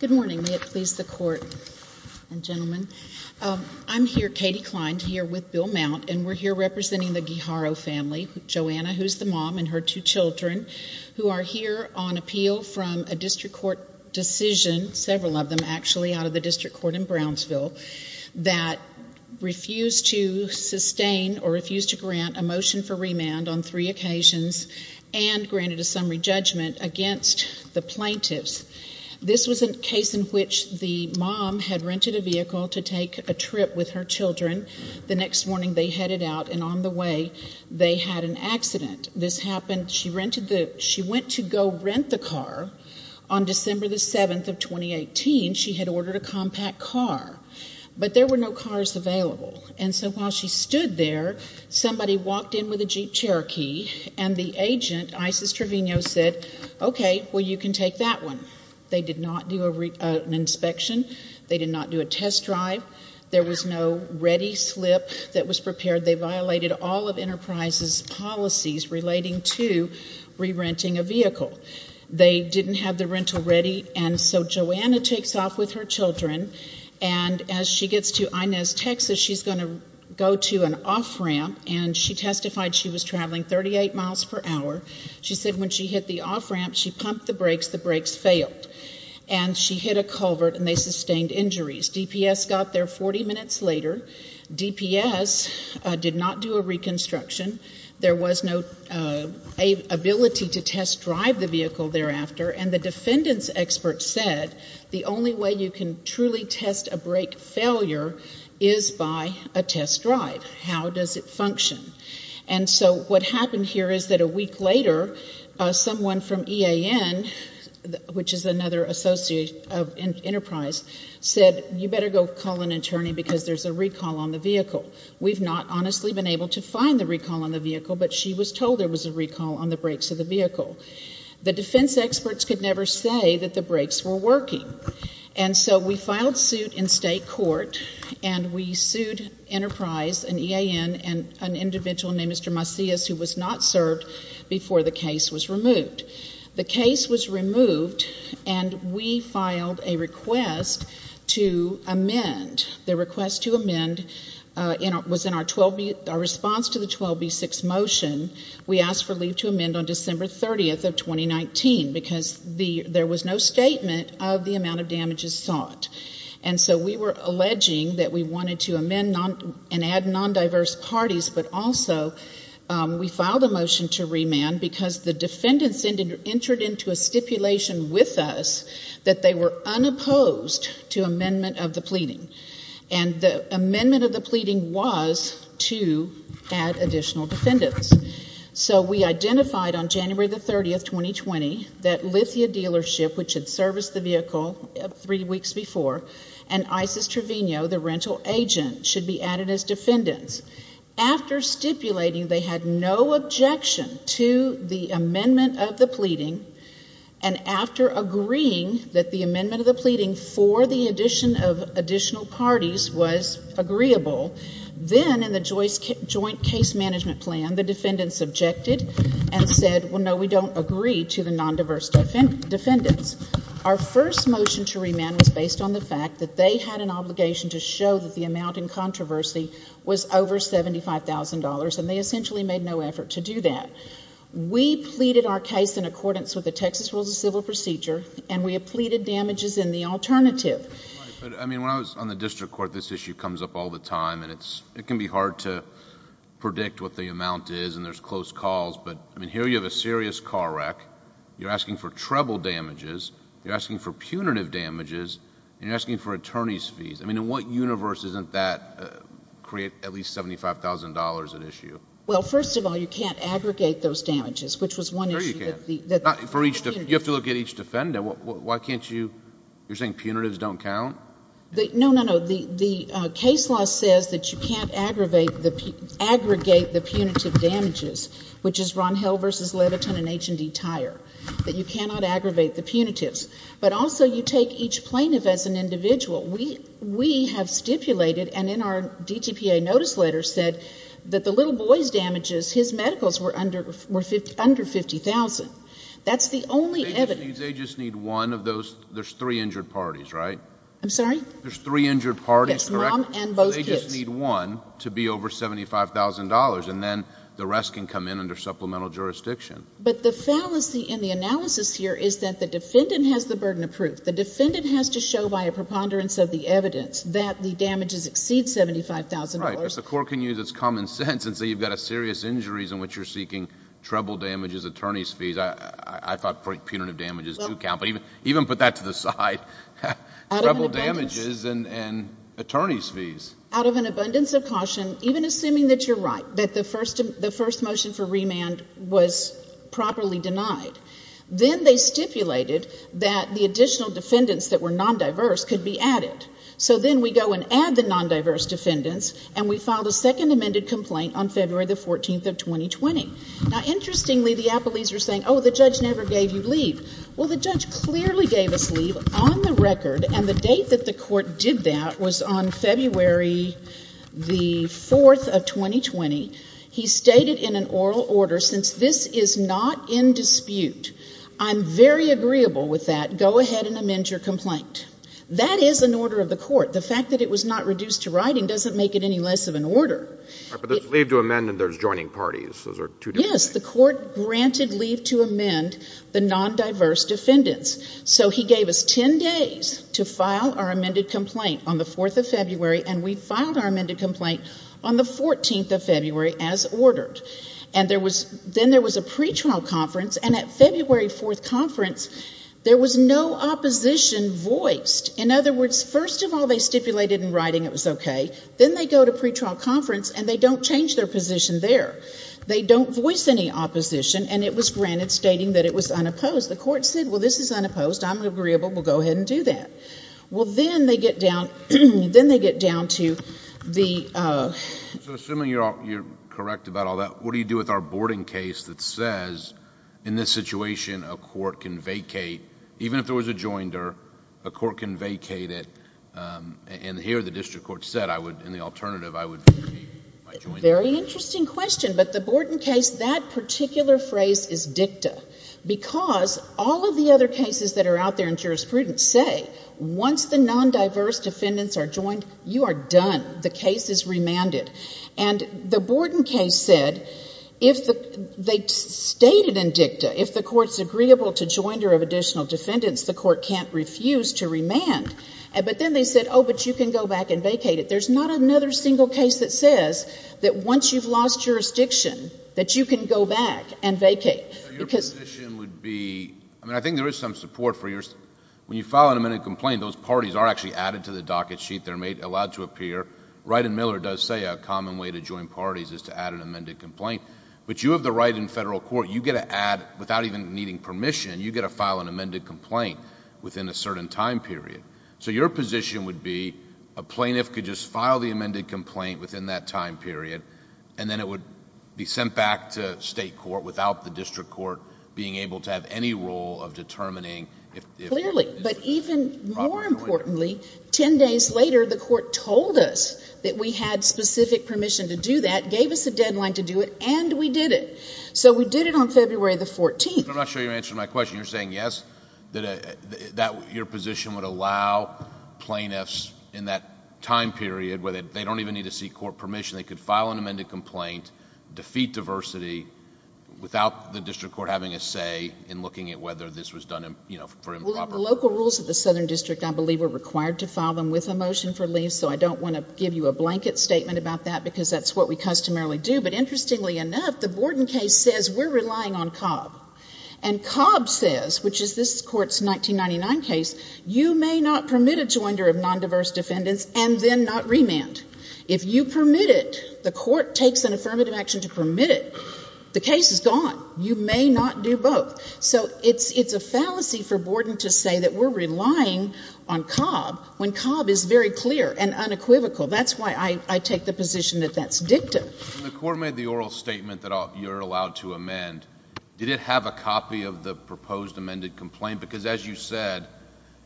Good morning. May it please the Court and gentlemen. I'm here, Katie Kline, here with Bill Mount, and we're here representing the Guijarro family, Joanna, who's the mom, and her two children, who are here on appeal from a district court decision, several of them actually, out of the district court in Brownsville, that refused to sustain or refused to grant a motion for remand on three occasions and granted a summary judgment against the plaintiffs. This was a case in which the mom had rented a vehicle to take a trip with her children. The next morning, they headed out, and on the way, they had an accident. This happened. She went to go rent the car. On December the 7th of 2018, she had ordered a compact car, but there were no cars available, and so while she stood there, somebody walked in with a Jeep Cherokee, and the agent, Isis Trevino, said, okay, well you can take that one. They did not do an inspection. They did not do a test drive. There was no ready slip that was prepared. They violated all of Enterprise's policies relating to re-renting a vehicle. They didn't have the rental ready, and so Joanna takes off with her children, and as she gets to Inez, Texas, she's going to go to an off-ramp, and she testified she was traveling 38 miles per hour. She said when she hit the off-ramp, she pumped the brakes. The brakes failed, and she hit a culvert, and they sustained injuries. DPS got there 40 minutes later. DPS did not do a reconstruction. There was no ability to test drive the vehicle thereafter, and the defendant's expert said the only way you can truly test a brake failure is by a test drive. How does it function? And so what happened here is that a week later, someone from EAN, which is another associate of Enterprise, said you better go call an attorney because there's a recall on the vehicle. We've not honestly been able to find the recall on the vehicle, but she was told there was a recall on the brakes of the vehicle. The defense experts could never say that the brakes were working, and so we filed suit in state court, and we sued Enterprise and EAN and an individual named Mr. Macias who was not served before the case was removed. The case was removed, and we filed a request to amend. The request to amend was in our response to the 12B6 motion. We asked for leave to amend on December 30th of 2019 because there was no statement of the amount of damages sought. And so we were alleging that we wanted to amend and add non-diverse parties, but also we filed a motion to remand because the defendants entered into a stipulation with us that they were unopposed to amendment of the pleading. And the amendment of the pleading was to add additional defendants. So we identified on January 30th, 2020, that Lithia Dealership, which had serviced the vehicle three weeks before, and Isis Trevino, the rental agent, should be added as defendants. After stipulating they had no objection to the amendment of the pleading, and after agreeing that the amendment of the pleading for the addition of additional parties was agreeable, then in the joint case management plan, the defendants objected and said, well, no, we don't agree to the non-diverse defendants. Our first motion to remand was based on the fact that they had an obligation to show that the amount in controversy was over $75,000, and they essentially made no effort to do that. We pleaded our case in accordance with the Texas Rules of Civil Procedure, and we have pleaded damages in the alternative. When I was on the district court, this issue comes up all the time, and it can be hard to predict what the amount is and there's close calls, but here you have a serious car wreck, you're asking for treble damages, you're asking for punitive damages, and you're asking for attorney's fees. In what universe doesn't that create at least $75,000 at issue? Well, first of all, you can't aggregate those damages, which was one issue. Sure you can. For each, you have to look at each defendant. Why can't you, you're saying punitives don't count? No, no, no. The case law says that you can't aggregate the punitive damages, which is Ron Hill v. Levitin and H&E Tire, that you cannot aggravate the punitives, but also you take each plaintiff as an individual. We have stipulated, and in our DTPA notice letter said that the little boy's damages, his medicals were under $50,000. That's the only evidence. They just need one of those, there's three injured parties, right? I'm sorry? There's three injured parties, correct? Yes, mom and both kids. They just need one to be over $75,000, and then the rest can come in under supplemental jurisdiction. But the fallacy in the analysis here is that the defendant has the burden of proof. The defendant has to show by a preponderance of the evidence that the damages exceed $75,000. Right, because the court can use its common sense and say you've got serious injuries in which you're seeking treble damages, attorney's fees. I thought punitive damages do count, but even put that to the side. Treble damages and attorney's fees. Out of an abundance of caution, even assuming that you're right, that the first motion for remand was properly denied. Then they stipulated that the additional defendants that were non-diverse could be added. So then we go and add the non-diverse defendants, and we filed a second amended complaint on February the 14th of 2020. Now, interestingly, the appellees were saying, oh, the judge never gave you leave. Well, the judge clearly gave us leave on the record, and the date that the court did that was on February the 4th of 2020. He stated in an oral order, since this is not in dispute, I'm very agreeable with that. Go ahead and amend your complaint. That is an order of the court. The fact that it was not reduced to writing doesn't make it any less of an order. But there's leave to amend and there's joining parties. Those are two different things. Yes. The court granted leave to amend the non-diverse defendants. So he gave us 10 days to file our amended complaint on the 4th of February, and we filed our amended complaint on the 14th of February as ordered. And there was — then there was a pretrial conference, and at February 4th conference, there was no opposition voiced. In other words, first of all, they stipulated in writing it was okay. Then they go to pretrial conference, and they don't change their position there. They don't voice any opposition, and it was granted, stating that it was unopposed. The court said, well, this is unopposed. I'm agreeable. We'll go ahead and do that. Well, then they get down to the — So assuming you're correct about all that, what do you do with our boarding case that says, in this situation, a court can vacate? Even if there was a joinder, a court can vacate it. And here the district court said, I would, in the alternative, I would vacate my joinder. Very interesting question. But the boarding case, that particular phrase is dicta because all of the other cases that are out there in jurisprudence say, once the non-diverse defendants are joined, you are done. The case is remanded. And the boarding case said, if the — they stated in dicta, if the court's agreeable to joinder of additional defendants, the court can't refuse to remand. But then they said, oh, but you can go back and vacate it. There's not another single case that says that once you've lost jurisdiction, that you can go back and vacate. Your position would be — I mean, I think there is some support for yours. When you file an amended complaint, those parties are actually added to the docket sheet. They're allowed to appear. Ryden Miller does say a common way to join parties is to add an amended complaint. But you have the right in federal court, you get to add — without even needing permission, you get to file an amended complaint within a certain time period. So your position would be a plaintiff could just file the amended complaint within that time period, and then it would be sent back to state court without the district court being able to have any role of determining if — But even more importantly, 10 days later, the court told us that we had specific permission to do that, gave us a deadline to do it, and we did it. So we did it on February the 14th. But I'm not sure you're answering my question. You're saying, yes, that your position would allow plaintiffs in that time period, where they don't even need to seek court permission, they could file an amended complaint, defeat diversity, without the district court having a say in looking at whether this was done for improper — Well, the local rules of the Southern District, I believe, are required to file them with a motion for leave, so I don't want to give you a blanket statement about that because that's what we customarily do. But interestingly enough, the Borden case says we're relying on Cobb. And Cobb says, which is this court's 1999 case, you may not permit a joinder of nondiverse defendants and then not remand. If you permit it, the court takes an affirmative action to permit it. The case is gone. You may not do both. So it's a fallacy for Borden to say that we're relying on Cobb when Cobb is very clear and unequivocal. That's why I take the position that that's dictum. When the court made the oral statement that you're allowed to amend, did it have a copy of the proposed amended complaint? Because as you said,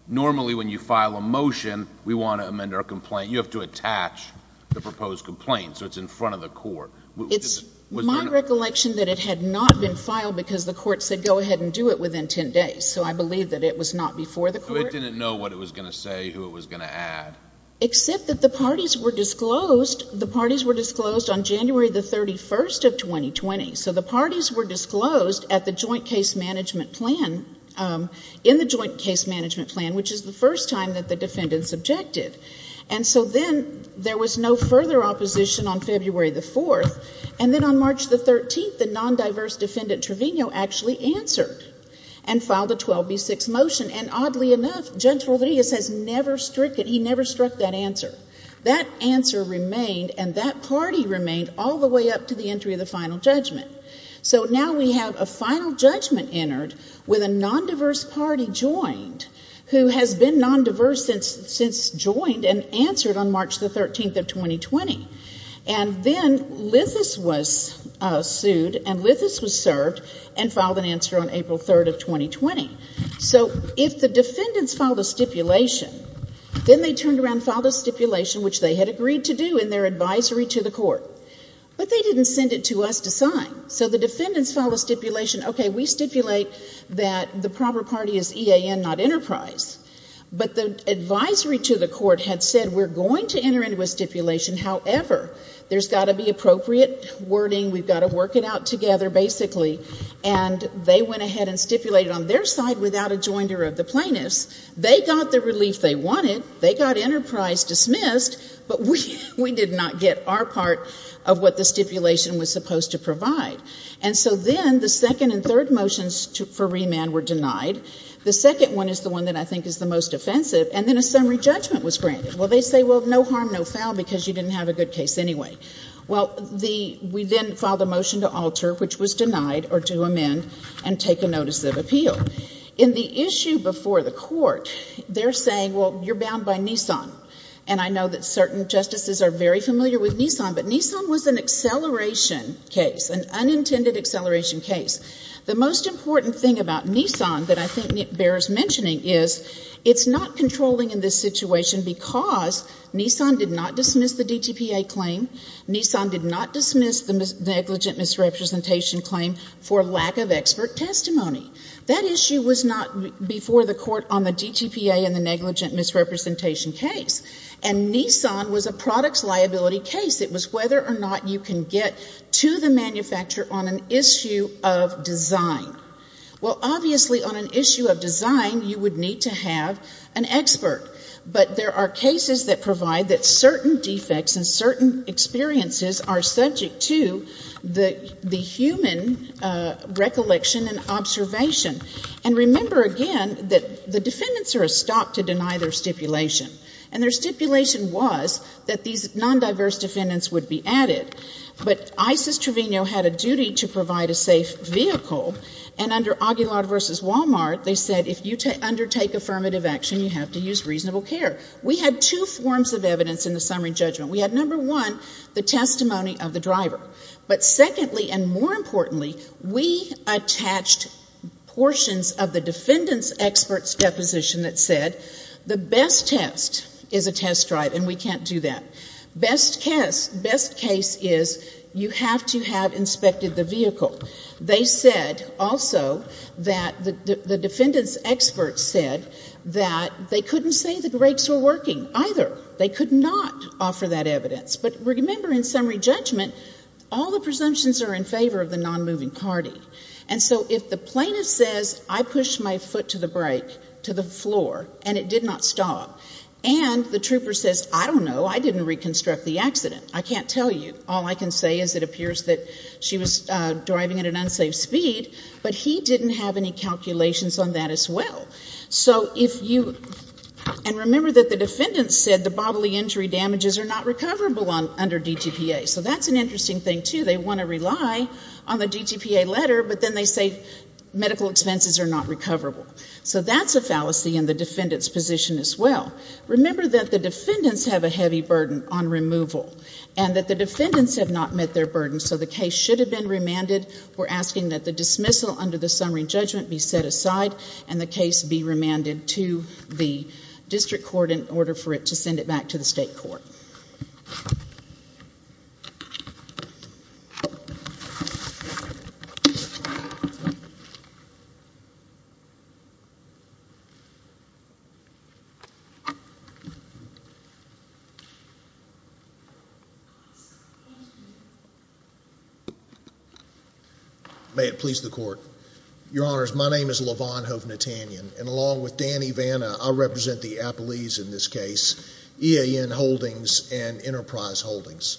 normally when you file a motion, we want to amend our complaint. You have to attach the proposed complaint, so it's in front of the court. It's my recollection that it had not been filed because the court said go ahead and do it within 10 days. So I believe that it was not before the court. So it didn't know what it was going to say, who it was going to add. Except that the parties were disclosed. The parties were disclosed on January 31, 2020. So the parties were disclosed at the joint case management plan, in the joint case management plan, which is the first time that the defendants objected. And so then there was no further opposition on February the 4th. And then on March the 13th, the nondiverse defendant Trevino actually answered and filed a 12B6 motion. And oddly enough, Judge Rodriguez has never stricken, he never struck that answer. That answer remained and that party remained all the way up to the entry of the final judgment. So now we have a final judgment entered with a nondiverse party joined who has been nondiverse since joined and answered on March the 13th of 2020. And then Lithis was sued and Lithis was served and filed an answer on April 3rd of 2020. So if the defendants filed a stipulation, then they turned around and filed a stipulation, which they had agreed to do in their advisory to the court. But they didn't send it to us to sign. So the defendants filed a stipulation, okay, we stipulate that the proper party is EAN, not Enterprise. But the advisory to the court had said we're going to enter into a stipulation. However, there's got to be appropriate wording. We've got to work it out together, basically. And they went ahead and stipulated on their side without a jointer of the plaintiffs. They got the relief they wanted. They got Enterprise dismissed. But we did not get our part of what the stipulation was supposed to provide. And so then the second and third motions for remand were denied. The second one is the one that I think is the most offensive. And then a summary judgment was granted. Well, they say, well, no harm, no foul, because you didn't have a good case anyway. Well, we then filed a motion to alter, which was denied, or to amend and take a notice of appeal. In the issue before the court, they're saying, well, you're bound by Nissan. And I know that certain justices are very familiar with Nissan. But Nissan was an acceleration case, an unintended acceleration case. The most important thing about Nissan that I think bears mentioning is it's not controlling in this situation because Nissan did not dismiss the DTPA claim. Nissan did not dismiss the negligent misrepresentation claim for lack of expert testimony. That issue was not before the court on the DTPA and the negligent misrepresentation case. And Nissan was a products liability case. It was whether or not you can get to the manufacturer on an issue of design. Well, obviously, on an issue of design, you would need to have an expert. But there are cases that provide that certain defects and certain experiences are subject to the human recollection and observation. And remember, again, that the defendants are a stop to deny their stipulation. And their stipulation was that these non-diverse defendants would be added. But Isis Trevino had a duty to provide a safe vehicle. And under Aguilar v. Walmart, they said if you undertake affirmative action, you have to use reasonable care. We had two forms of evidence in the summary judgment. We had, number one, the testimony of the driver. But secondly and more importantly, we attached portions of the defendants' experts' deposition that said the best test is a test drive, and we can't do that. Best case is you have to have inspected the vehicle. They said also that the defendants' experts said that they couldn't say the brakes were working either. They could not offer that evidence. But remember, in summary judgment, all the presumptions are in favor of the non-moving party. And so if the plaintiff says, I pushed my foot to the brake, to the floor, and it did not stop, and the trooper says, I don't know, I didn't reconstruct the accident, I can't tell you, all I can say is it appears that she was driving at an unsafe speed, but he didn't have any calculations on that as well. And remember that the defendants said the bodily injury damages are not recoverable under DTPA. So that's an interesting thing, too. They want to rely on the DTPA letter, but then they say medical expenses are not recoverable. So that's a fallacy in the defendants' position as well. Remember that the defendants have a heavy burden on removal and that the defendants have not met their burden, so the case should have been remanded. We're asking that the dismissal under the summary judgment be set aside and the case be remanded to the district court in order for it to send it back to the state court. May it please the court. Your Honors, my name is Lavon Hovnatanyan, and along with Danny Vanna, I represent the Appellees in this case, EAN Holdings and Enterprise Holdings.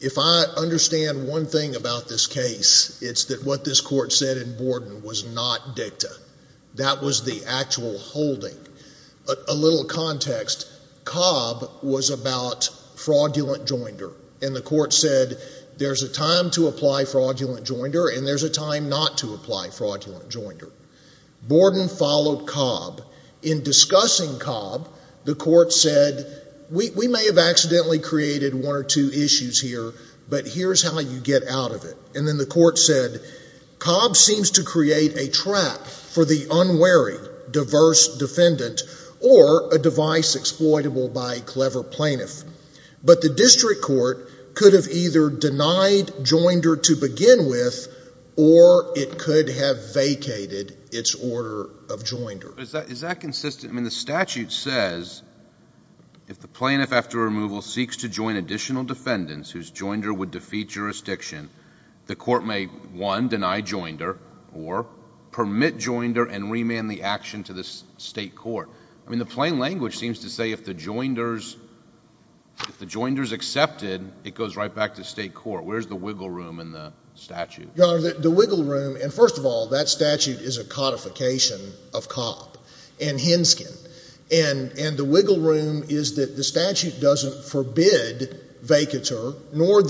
If I understand one thing about this case, it's that what this court said in Borden was not dicta. That was the actual holding. A little context. Cobb was about fraudulent joinder, and the court said there's a time to apply fraudulent joinder and there's a time not to apply fraudulent joinder. Borden followed Cobb. In discussing Cobb, the court said, we may have accidentally created one or two issues here, but here's how you get out of it. And then the court said, Cobb seems to create a trap for the unwary, diverse defendant or a device exploitable by a clever plaintiff. But the district court could have either denied joinder to begin with or it could have vacated its order of joinder. Is that consistent? I mean, the statute says if the plaintiff after removal seeks to join additional defendants whose joinder would defeat jurisdiction, the court may, one, deny joinder or permit joinder and remand the action to the state court. I mean, the plain language seems to say if the joinder's accepted, it goes right back to state court. Where's the wiggle room in the statute? Your Honor, the wiggle room, and first of all, that statute is a codification of Cobb and Henskin. And the wiggle room is that the statute doesn't forbid vacateur, nor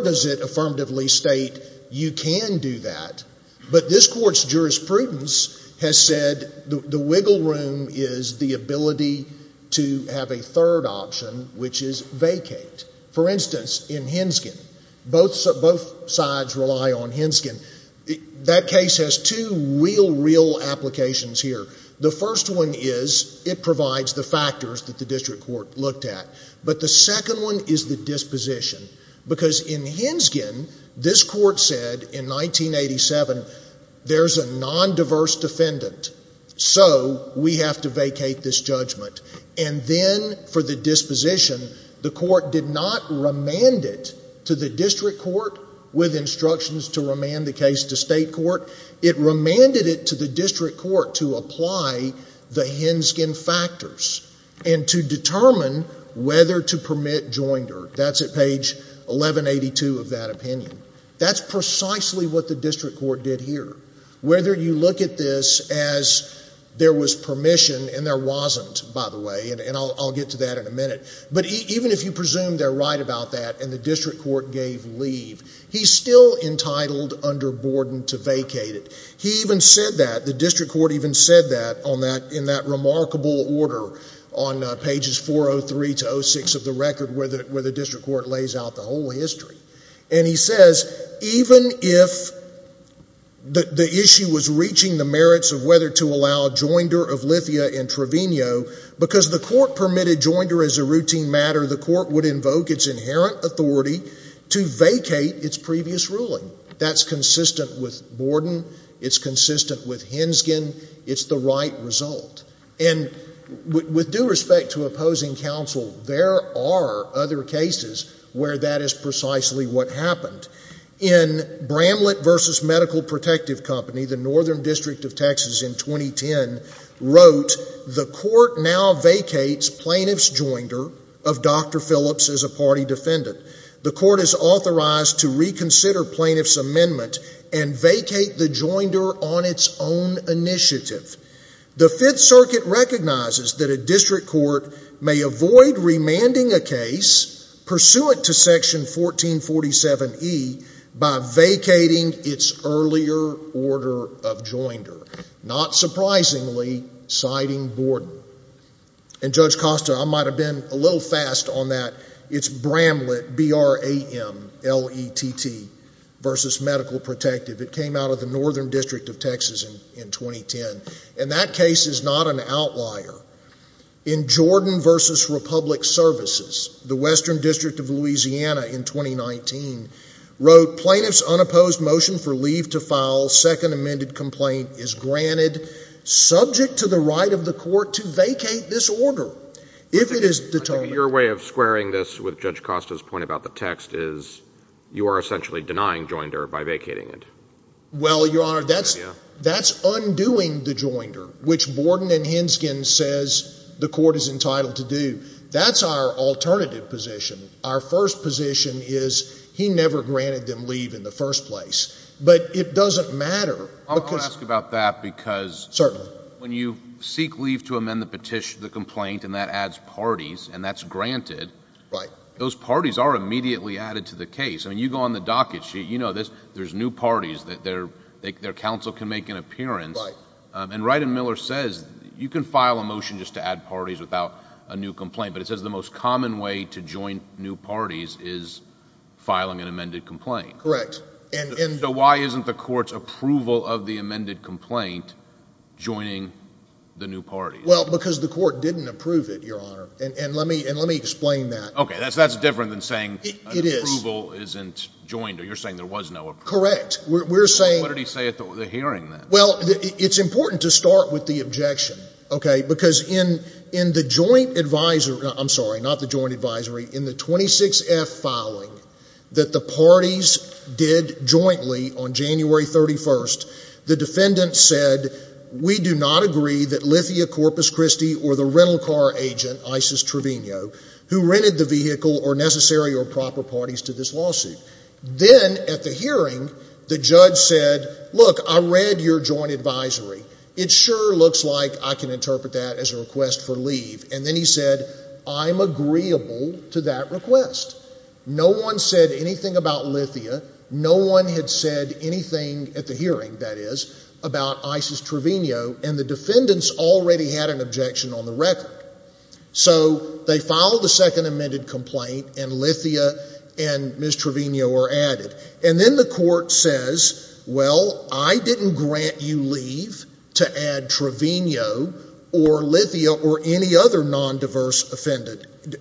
does it affirmatively state you can do that. But this court's jurisprudence has said the wiggle room is the ability to have a third option, which is vacate. For instance, in Henskin, both sides rely on Henskin. That case has two real, real applications here. The first one is it provides the factors that the district court looked at. But the second one is the disposition. Because in Henskin, this court said in 1987, there's a nondiverse defendant, so we have to vacate this judgment. And then for the disposition, the court did not remand it to the district court with instructions to remand the case to state court. It remanded it to the district court to apply the Henskin factors and to determine whether to permit joinder. That's at page 1182 of that opinion. That's precisely what the district court did here. Whether you look at this as there was permission, and there wasn't, by the way, and I'll get to that in a minute, but even if you presume they're right about that and the district court gave leave, he's still entitled under Borden to vacate it. He even said that, the district court even said that in that remarkable order on pages 403 to 06 of the record where the district court lays out the whole history. And he says even if the issue was reaching the merits of whether to allow joinder of Lithia and Trevino, because the court permitted joinder as a routine matter, the court would invoke its inherent authority to vacate its previous ruling. That's consistent with Borden. It's consistent with Henskin. It's the right result. And with due respect to opposing counsel, there are other cases where that is precisely what happened. In Bramlett v. Medical Protective Company, the Northern District of Texas in 2010, wrote, the court now vacates plaintiff's joinder of Dr. Phillips as a party defendant. The court is authorized to reconsider plaintiff's amendment and vacate the joinder on its own initiative. The Fifth Circuit recognizes that a district court may avoid remanding a case pursuant to Section 1447E by vacating its earlier order of joinder, not surprisingly citing Borden. And Judge Costa, I might have been a little fast on that. It's Bramlett, B-R-A-M-L-E-T-T, versus Medical Protective. It came out of the Northern District of Texas in 2010. And that case is not an outlier. In Jordan v. Republic Services, the Western District of Louisiana in 2019, wrote, the plaintiff's unopposed motion for leave to file second amended complaint is granted subject to the right of the court to vacate this order if it is determined. Your way of squaring this with Judge Costa's point about the text is you are essentially denying joinder by vacating it. Well, Your Honor, that's undoing the joinder, which Borden and Henskin says the court is entitled to do. That's our alternative position. Our first position is he never granted them leave in the first place. But it doesn't matter. I'm going to ask about that because when you seek leave to amend the petition, the complaint, and that adds parties and that's granted, those parties are immediately added to the case. I mean, you go on the docket sheet. You know there's new parties that their counsel can make an appearance. And Wright and Miller says you can file a motion just to add parties without a new complaint. But it says the most common way to join new parties is filing an amended complaint. Correct. So why isn't the court's approval of the amended complaint joining the new parties? Well, because the court didn't approve it, Your Honor. And let me explain that. Okay, that's different than saying approval isn't joinder. You're saying there was no approval. Correct. What did he say at the hearing then? Well, it's important to start with the objection. Okay, because in the joint advisory ‑‑ I'm sorry, not the joint advisory. In the 26F filing that the parties did jointly on January 31st, the defendant said, we do not agree that Lithia Corpus Christi or the rental car agent, Isis Trevino, who rented the vehicle are necessary or proper parties to this lawsuit. Then at the hearing, the judge said, look, I read your joint advisory. It sure looks like I can interpret that as a request for leave. And then he said, I'm agreeable to that request. No one said anything about Lithia. No one had said anything at the hearing, that is, about Isis Trevino, and the defendants already had an objection on the record. So they filed the second amended complaint, and Lithia and Ms. Trevino were added. And then the court says, well, I didn't grant you leave to add Trevino or Lithia or any other nondiverse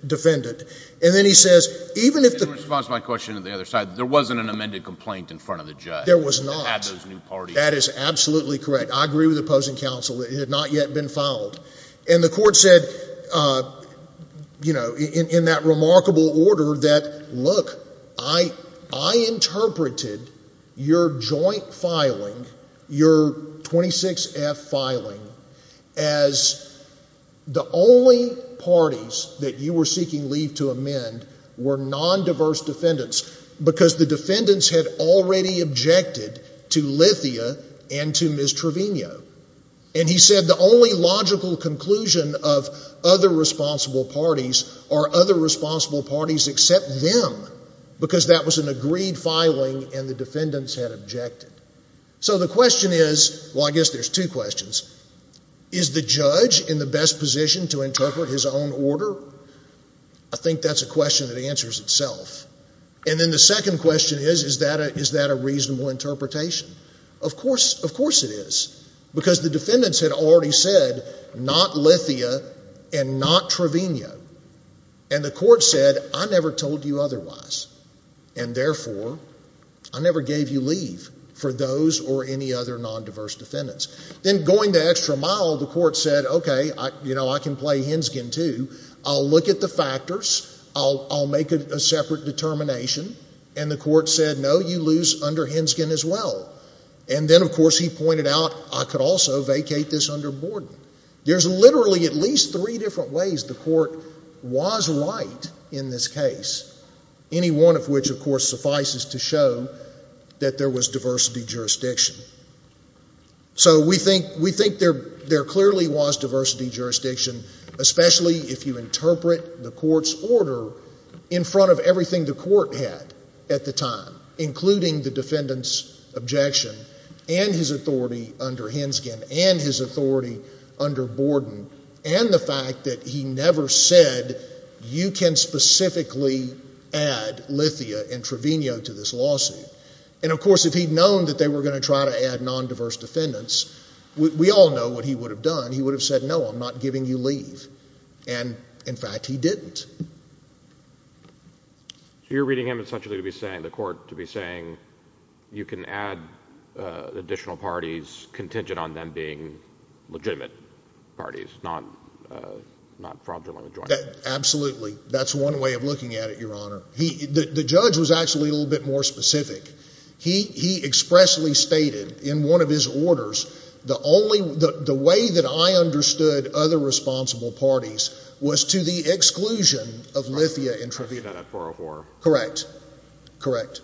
defendant. And then he says, even if the ‑‑ In response to my question on the other side, there wasn't an amended complaint in front of the judge. There was not. That had those new parties. That is absolutely correct. I agree with the opposing counsel. It had not yet been filed. And the court said, you know, in that remarkable order that, look, I interpreted your joint filing, your 26F filing, as the only parties that you were seeking leave to amend were nondiverse defendants because the defendants had already objected to Lithia and to Ms. Trevino. And he said the only logical conclusion of other responsible parties are other responsible parties except them because that was an agreed filing and the defendants had objected. So the question is, well, I guess there's two questions. Is the judge in the best position to interpret his own order? I think that's a question that answers itself. And then the second question is, is that a reasonable interpretation? Of course it is. Because the defendants had already said not Lithia and not Trevino. And the court said, I never told you otherwise. And therefore, I never gave you leave for those or any other nondiverse defendants. Then going the extra mile, the court said, okay, you know, I can play Henskin too. I'll look at the factors. I'll make a separate determination. And the court said, no, you lose under Henskin as well. And then, of course, he pointed out, I could also vacate this under Borden. There's literally at least three different ways the court was right in this case, any one of which, of course, suffices to show that there was diversity jurisdiction. So we think there clearly was diversity jurisdiction, especially if you interpret the court's order in front of everything the court had at the time, including the defendant's objection and his authority under Henskin and his authority under Borden and the fact that he never said, you can specifically add Lithia and Trevino to this lawsuit. And, of course, if he'd known that they were going to try to add nondiverse defendants, we all know what he would have done. He would have said, no, I'm not giving you leave. And, in fact, he didn't. So you're reading him essentially to be saying, the court to be saying, you can add additional parties contingent on them being legitimate parties, not fraudulently joined. Absolutely. That's one way of looking at it, Your Honor. The judge was actually a little bit more specific. He expressly stated in one of his orders, the way that I understood other responsible parties was to the exclusion of Lithia and Trevino. Correct. Correct.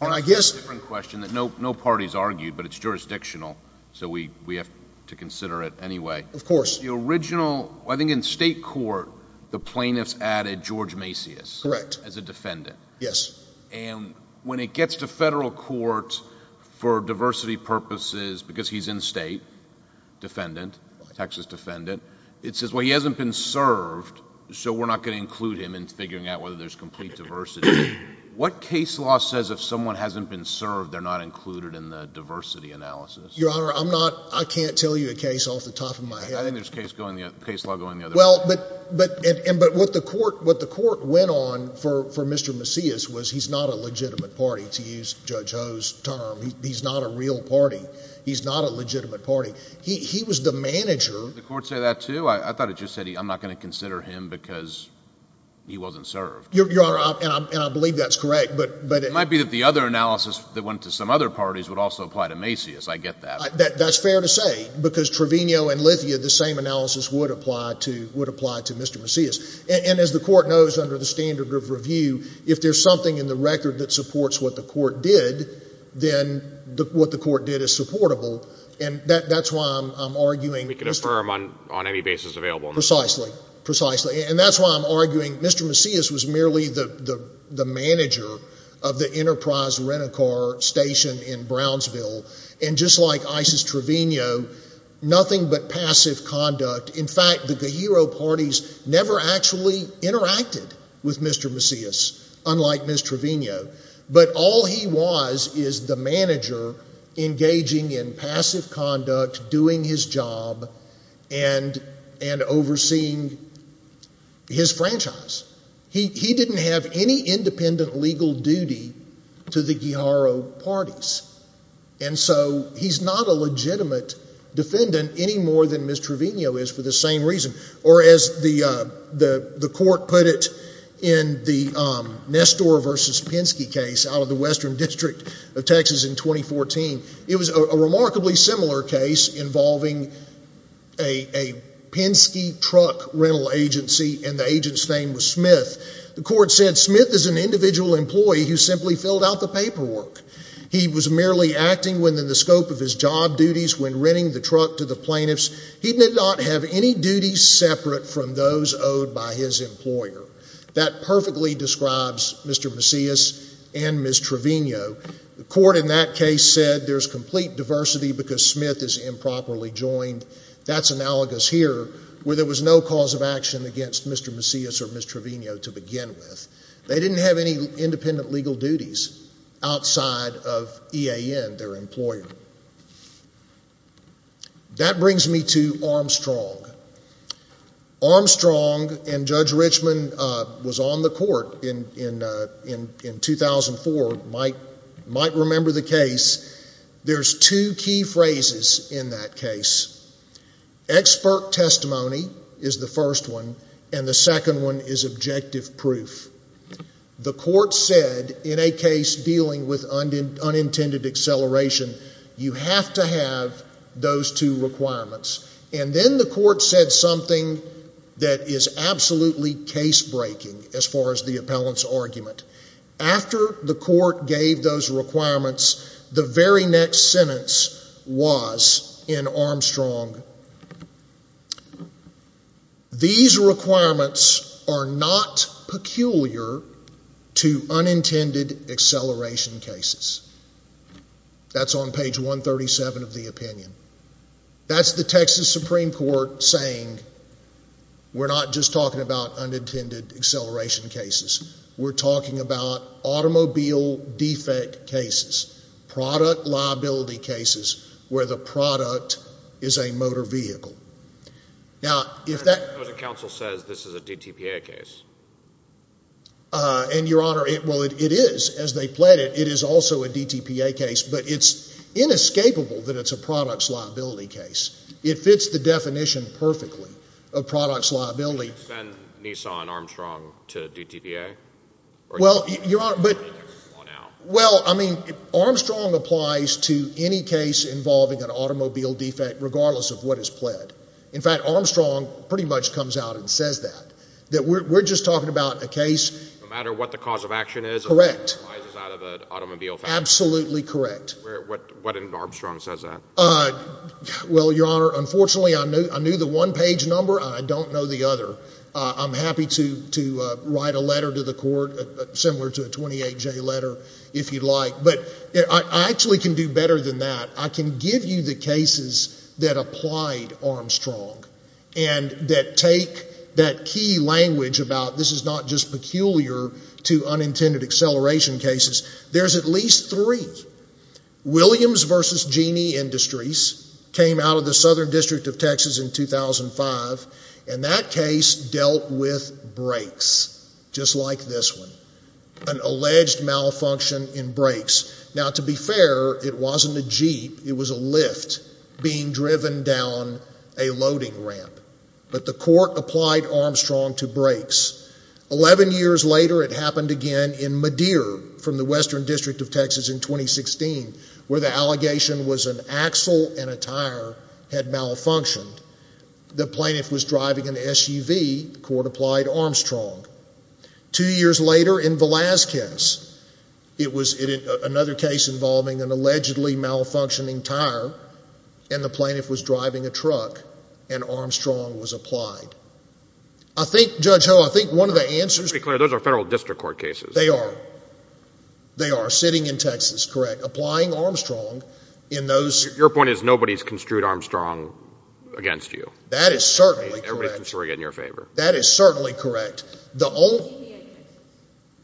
And I guess— That's a different question that no party has argued, but it's jurisdictional, so we have to consider it anyway. Of course. The original—I think in state court, the plaintiffs added George Macias as a defendant. Correct. Yes. And when it gets to federal court, for diversity purposes, because he's in state, defendant, Texas defendant, it says, well, he hasn't been served, so we're not going to include him in figuring out whether there's complete diversity. What case law says if someone hasn't been served, they're not included in the diversity analysis? Your Honor, I'm not—I can't tell you a case off the top of my head. I think there's case law going the other way. Well, but—and what the court went on for Mr. Macias was he's not a legitimate party, to use Judge Ho's term. He's not a real party. He's not a legitimate party. He was the manager— Did the court say that, too? I thought it just said, I'm not going to consider him because he wasn't served. Your Honor, and I believe that's correct, but— It might be that the other analysis that went to some other parties would also apply to Macias. I get that. That's fair to say because Trevino and Lithia, the same analysis would apply to Mr. Macias. And as the court knows under the standard of review, if there's something in the record that supports what the court did, then what the court did is supportable. And that's why I'm arguing— We can affirm on any basis available. Precisely. Precisely. And that's why I'm arguing Mr. Macias was merely the manager of the Enterprise Rent-A-Car station in Brownsville. And just like Isis Trevino, nothing but passive conduct. In fact, the Guijarro parties never actually interacted with Mr. Macias, unlike Ms. Trevino. But all he was is the manager engaging in passive conduct, doing his job, and overseeing his franchise. He didn't have any independent legal duty to the Guijarro parties. And so he's not a legitimate defendant any more than Ms. Trevino is for the same reason. Or as the court put it in the Nestor v. Penske case out of the Western District of Texas in 2014, it was a remarkably similar case involving a Penske truck rental agency, and the agent's name was Smith. The court said Smith is an individual employee who simply filled out the paperwork. He was merely acting within the scope of his job duties when renting the truck to the plaintiffs. He did not have any duties separate from those owed by his employer. That perfectly describes Mr. Macias and Ms. Trevino. The court in that case said there's complete diversity because Smith is improperly joined. That's analogous here, where there was no cause of action against Mr. Macias or Ms. Trevino to begin with. They didn't have any independent legal duties outside of EAN, their employer. That brings me to Armstrong. Armstrong and Judge Richman was on the court in 2004, might remember the case. There's two key phrases in that case. Expert testimony is the first one, and the second one is objective proof. The court said in a case dealing with unintended acceleration, you have to have those two requirements. And then the court said something that is absolutely case-breaking as far as the appellant's argument. After the court gave those requirements, the very next sentence was in Armstrong, these requirements are not peculiar to unintended acceleration cases. That's on page 137 of the opinion. That's the Texas Supreme Court saying we're not just talking about unintended acceleration cases. We're talking about automobile defect cases, product liability cases where the product is a motor vehicle. Now, if that— But the counsel says this is a DTPA case. And, Your Honor, well, it is. As they pled it, it is also a DTPA case. But it's inescapable that it's a products liability case. It fits the definition perfectly of products liability. Did you send Nissan Armstrong to DTPA? Well, Your Honor, but— Or did it come on out? Well, I mean, Armstrong applies to any case involving an automobile defect regardless of what is pled. In fact, Armstrong pretty much comes out and says that, that we're just talking about a case— No matter what the cause of action is— Correct. Absolutely correct. What in Armstrong says that? Well, Your Honor, unfortunately, I knew the one-page number. I don't know the other. I'm happy to write a letter to the court similar to a 28-J letter if you'd like. But I actually can do better than that. I can give you the cases that applied Armstrong and that take that key language about this is not just peculiar to unintended acceleration cases. There's at least three. Williams v. Genie Industries came out of the Southern District of Texas in 2005, and that case dealt with brakes just like this one, an alleged malfunction in brakes. Now, to be fair, it wasn't a Jeep. It was a lift being driven down a loading ramp. But the court applied Armstrong to brakes. Eleven years later, it happened again in Madeer from the Western District of Texas in 2016, where the allegation was an axle and a tire had malfunctioned. The plaintiff was driving an SUV. The court applied Armstrong. Two years later, in Velazquez, it was another case involving an allegedly malfunctioning tire, and the plaintiff was driving a truck, and Armstrong was applied. I think, Judge Ho, I think one of the answers— Just to be clear, those are federal district court cases. They are. They are. Sitting in Texas, correct. Applying Armstrong in those— Your point is nobody's construed Armstrong against you. That is certainly correct. Everybody's construing it in your favor. That is certainly correct. The only— DTPA cases.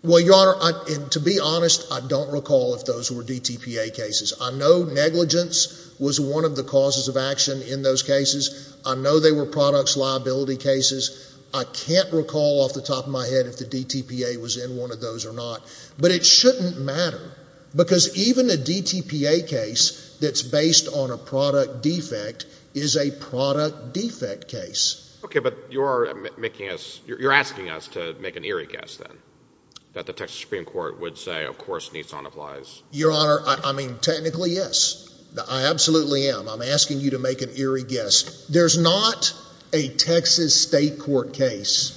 Well, Your Honor, to be honest, I don't recall if those were DTPA cases. I know negligence was one of the causes of action in those cases. I know they were products liability cases. I can't recall off the top of my head if the DTPA was in one of those or not. But it shouldn't matter, because even a DTPA case that's based on a product defect is a product defect case. Okay, but you are making us—you're asking us to make an eerie guess, then, that the Texas Supreme Court would say, of course, Nissan applies. Your Honor, I mean, technically, yes. I absolutely am. I'm asking you to make an eerie guess. There's not a Texas state court case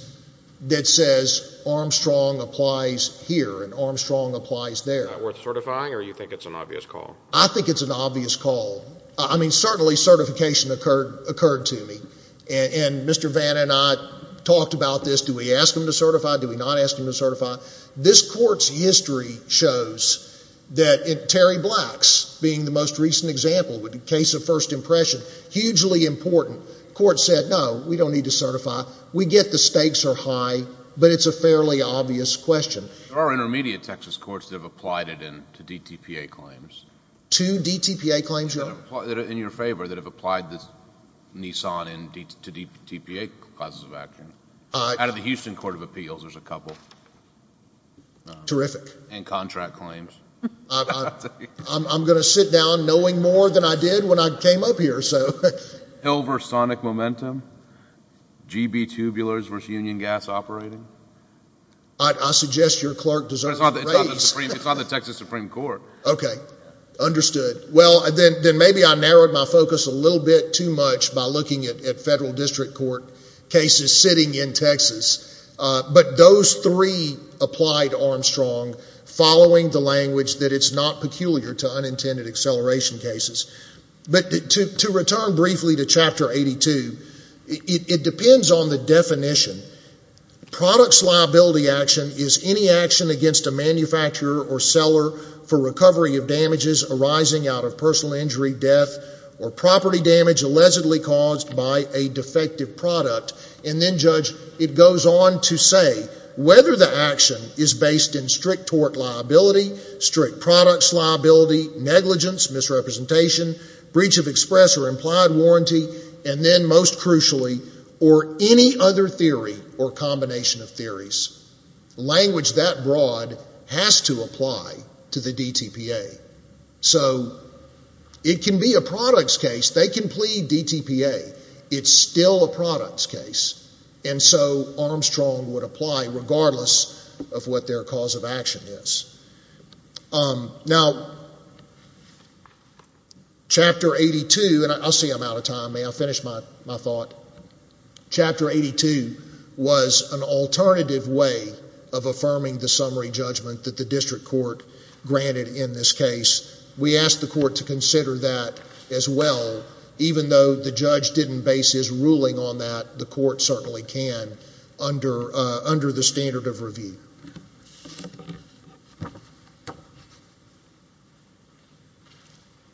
that says Armstrong applies here and Armstrong applies there. Is that worth certifying, or do you think it's an obvious call? I think it's an obvious call. I mean, certainly certification occurred to me. And Mr. Vanna and I talked about this. Do we ask them to certify? Do we not ask them to certify? This Court's history shows that Terry Black's being the most recent example, a case of first impression, hugely important. The Court said, no, we don't need to certify. We get the stakes are high, but it's a fairly obvious question. There are intermediate Texas courts that have applied it to DTPA claims. To DTPA claims, Your Honor? In your favor, that have applied this Nissan to DTPA clauses of action. Out of the Houston Court of Appeals, there's a couple. Terrific. And contract claims. I'm going to sit down knowing more than I did when I came up here. Hill v. Sonic Momentum, GB Tubulars v. Union Gas Operating. I suggest your clerk deserves a raise. It's on the Texas Supreme Court. Okay. Understood. Well, then maybe I narrowed my focus a little bit too much by looking at federal district court cases sitting in Texas. But those three applied Armstrong following the language that it's not peculiar to unintended acceleration cases. But to return briefly to Chapter 82, it depends on the definition. of damages arising out of personal injury, death, or property damage allegedly caused by a defective product. And then, Judge, it goes on to say whether the action is based in strict tort liability, strict products liability, negligence, misrepresentation, breach of express or implied warranty, and then most crucially, or any other theory or combination of theories. Language that broad has to apply to the DTPA. So it can be a products case. They can plead DTPA. It's still a products case. And so Armstrong would apply regardless of what their cause of action is. Now, Chapter 82, and I see I'm out of time. May I finish my thought? Chapter 82 was an alternative way of affirming the summary judgment that the district court granted in this case. We asked the court to consider that as well. Even though the judge didn't base his ruling on that,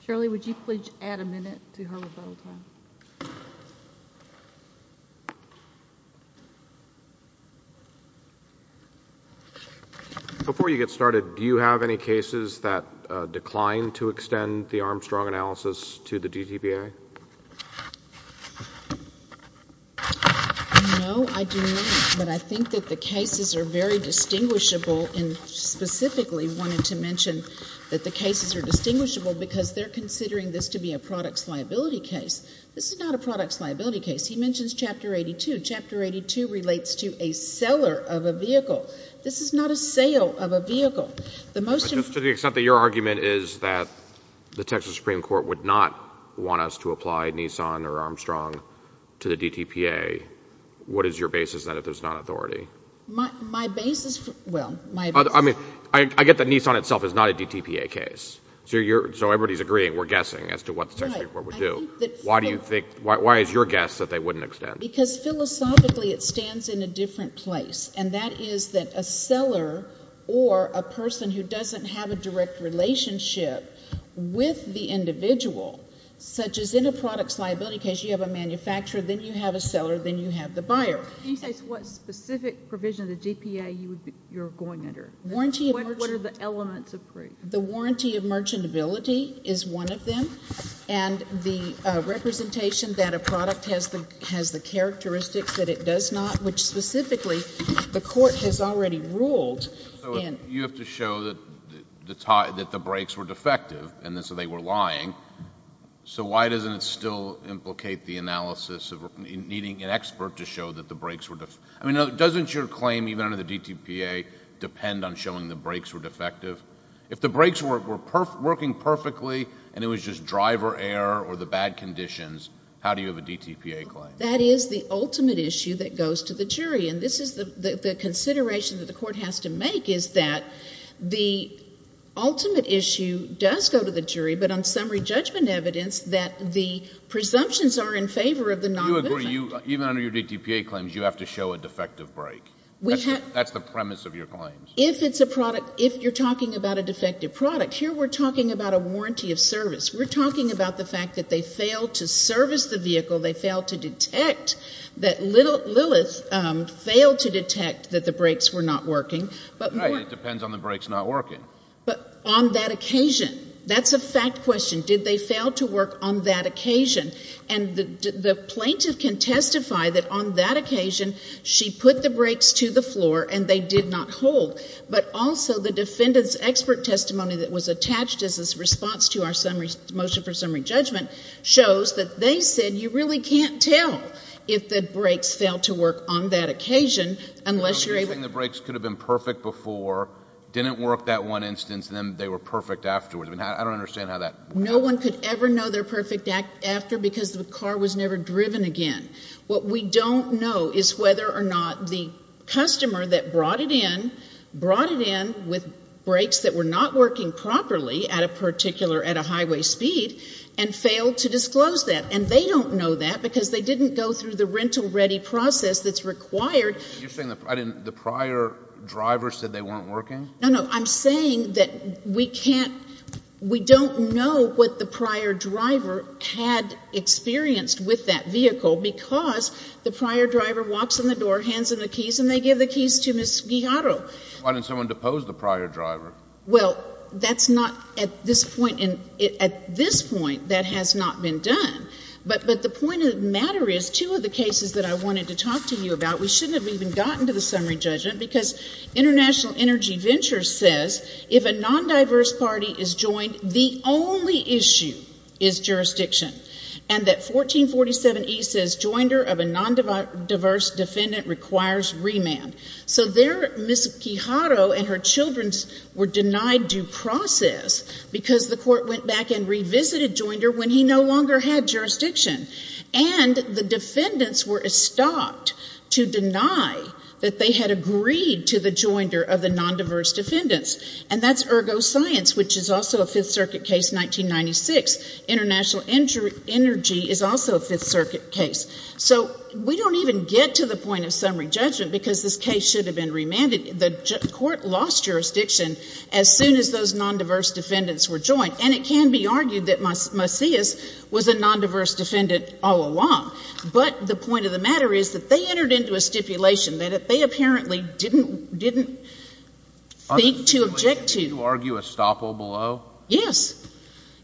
Shirley, would you please add a minute to her rebuttal time? Before you get started, do you have any cases that declined to extend the Armstrong analysis to the DTPA? No, I do not. But I think that the cases are very distinguishable, and specifically wanted to mention that the cases are distinguishable because they're considering this to be a products liability case. This is not a products liability case. He mentions Chapter 82. Chapter 82 relates to a seller of a vehicle. This is not a sale of a vehicle. Just to the extent that your argument is that the Texas Supreme Court would not want us to apply Nissan or Armstrong to the DTPA, what is your basis then if there's not authority? My basis... I get that Nissan itself is not a DTPA case, so everybody's agreeing, we're guessing, as to what the Texas Supreme Court would do. Why is your guess that they wouldn't extend? Because philosophically it stands in a different place, and that is that a seller or a person who doesn't have a direct relationship with the individual, such as in a products liability case, you have a manufacturer, then you have a seller, then you have the buyer. Can you say what specific provision of the DTPA you're going under? What are the elements of proof? The warranty of merchantability is one of them, and the representation that a product has the characteristics that it does not, which specifically the court has already ruled... So you have to show that the brakes were defective, and so they were lying. So why doesn't it still implicate the analysis of needing an expert to show that the brakes were... I mean, doesn't your claim even under the DTPA depend on showing the brakes were defective? If the brakes were working perfectly, and it was just driver error or the bad conditions, how do you have a DTPA claim? That is the ultimate issue that goes to the jury, and this is the consideration that the court has to make, is that the ultimate issue does go to the jury, but on summary judgment evidence, that the presumptions are in favor of the non-movement. Do you agree, even under your DTPA claims, you have to show a defective brake? That's the premise of your claim. If it's a product, if you're talking about a defective product, here we're talking about a warranty of service. We're talking about the fact that they failed to service the vehicle, they failed to detect that Lilith failed to detect that the brakes were not working. Right, it depends on the brakes not working. But on that occasion, that's a fact question. Did they fail to work on that occasion? And the plaintiff can testify that on that occasion she put the brakes to the floor and they did not hold, but also the defendant's expert testimony that was attached as a response to our motion for summary judgment shows that they said you really can't tell if the brakes failed to work on that occasion unless you're able to— I don't understand how that— No one could ever know their perfect after because the car was never driven again. What we don't know is whether or not the customer that brought it in, brought it in with brakes that were not working properly at a particular, at a highway speed, and failed to disclose that. And they don't know that because they didn't go through the rental-ready process that's required. You're saying the prior driver said they weren't working? No, no, I'm saying that we can't—we don't know what the prior driver had experienced with that vehicle because the prior driver walks in the door, hands him the keys, and they give the keys to Ms. Guijarro. Why didn't someone depose the prior driver? Well, that's not at this point—at this point that has not been done. But the point of the matter is two of the cases that I wanted to talk to you about, we shouldn't have even gotten to the summary judgment because International Energy Ventures says if a non-diverse party is joined, the only issue is jurisdiction. And that 1447E says joinder of a non-diverse defendant requires remand. So there Ms. Guijarro and her children were denied due process because the court went back and revisited joinder when he no longer had jurisdiction. And the defendants were estopped to deny that they had agreed to the joinder of the non-diverse defendants. And that's ergo science, which is also a Fifth Circuit case, 1996. International Energy is also a Fifth Circuit case. So we don't even get to the point of summary judgment because this case should have been remanded. The court lost jurisdiction as soon as those non-diverse defendants were joined. And it can be argued that Macias was a non-diverse defendant all along. But the point of the matter is that they entered into a stipulation that they apparently didn't think to object to. Can you argue estoppel below? Yes.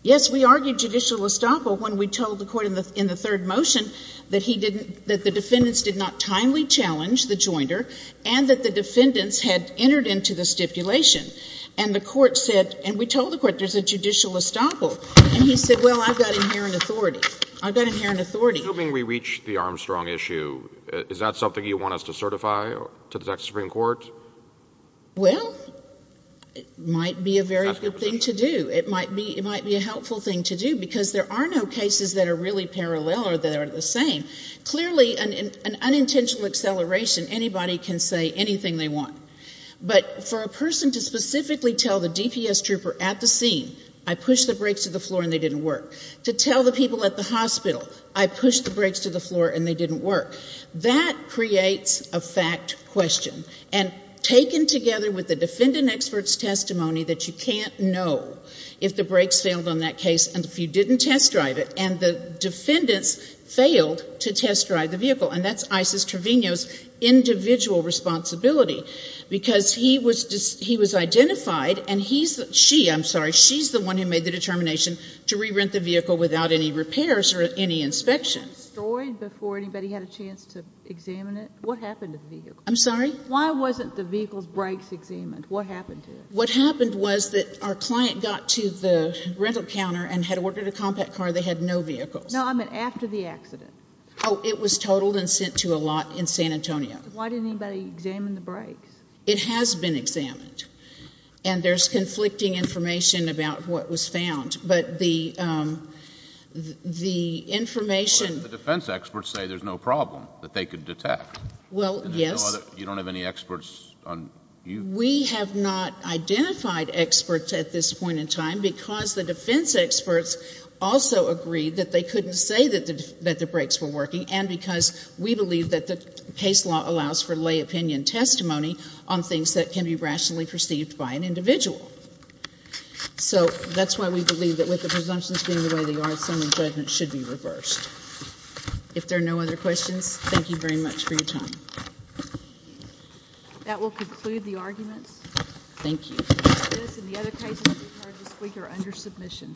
Yes, we argued judicial estoppel when we told the Court in the third motion that the defendants did not timely challenge the joinder and that the defendants had entered into the stipulation. And the Court said, and we told the Court there's a judicial estoppel. And he said, well, I've got inherent authority. I've got inherent authority. Assuming we reach the Armstrong issue, is that something you want us to certify to the Texas Supreme Court? Well, it might be a very good thing to do. It might be a helpful thing to do because there are no cases that are really parallel or that are the same. Clearly, an unintentional acceleration, anybody can say anything they want. But for a person to specifically tell the DPS trooper at the scene, I pushed the brakes to the floor and they didn't work. To tell the people at the hospital, I pushed the brakes to the floor and they didn't work. That creates a fact question. And taken together with the defendant expert's testimony that you can't know if the brakes failed on that case and if you didn't test drive it and the defendants failed to test drive the vehicle, and that's Isis Trevino's individual responsibility because he was identified and she, I'm sorry, she's the one who made the determination to re-rent the vehicle without any repairs or any inspections. Destroyed before anybody had a chance to examine it? What happened to the vehicle? I'm sorry? Why wasn't the vehicle's brakes examined? What happened to it? What happened was that our client got to the rental counter and had ordered a compact car. They had no vehicles. No, I meant after the accident. Oh, it was totaled and sent to a lot in San Antonio. Why didn't anybody examine the brakes? It has been examined. And there's conflicting information about what was found. But the information... The defense experts say there's no problem that they could detect. Well, yes. You don't have any experts on... We have not identified experts at this point in time because the defense experts also agreed that they couldn't say that the brakes were working and because we believe that the PACE law allows for lay opinion testimony on things that can be rationally perceived by an individual. So that's why we believe that with the presumptions being the way they are, some of the judgments should be reversed. If there are no other questions, thank you very much for your time. That will conclude the arguments. Thank you. This and the other cases we've heard this week are under submission. Thank you.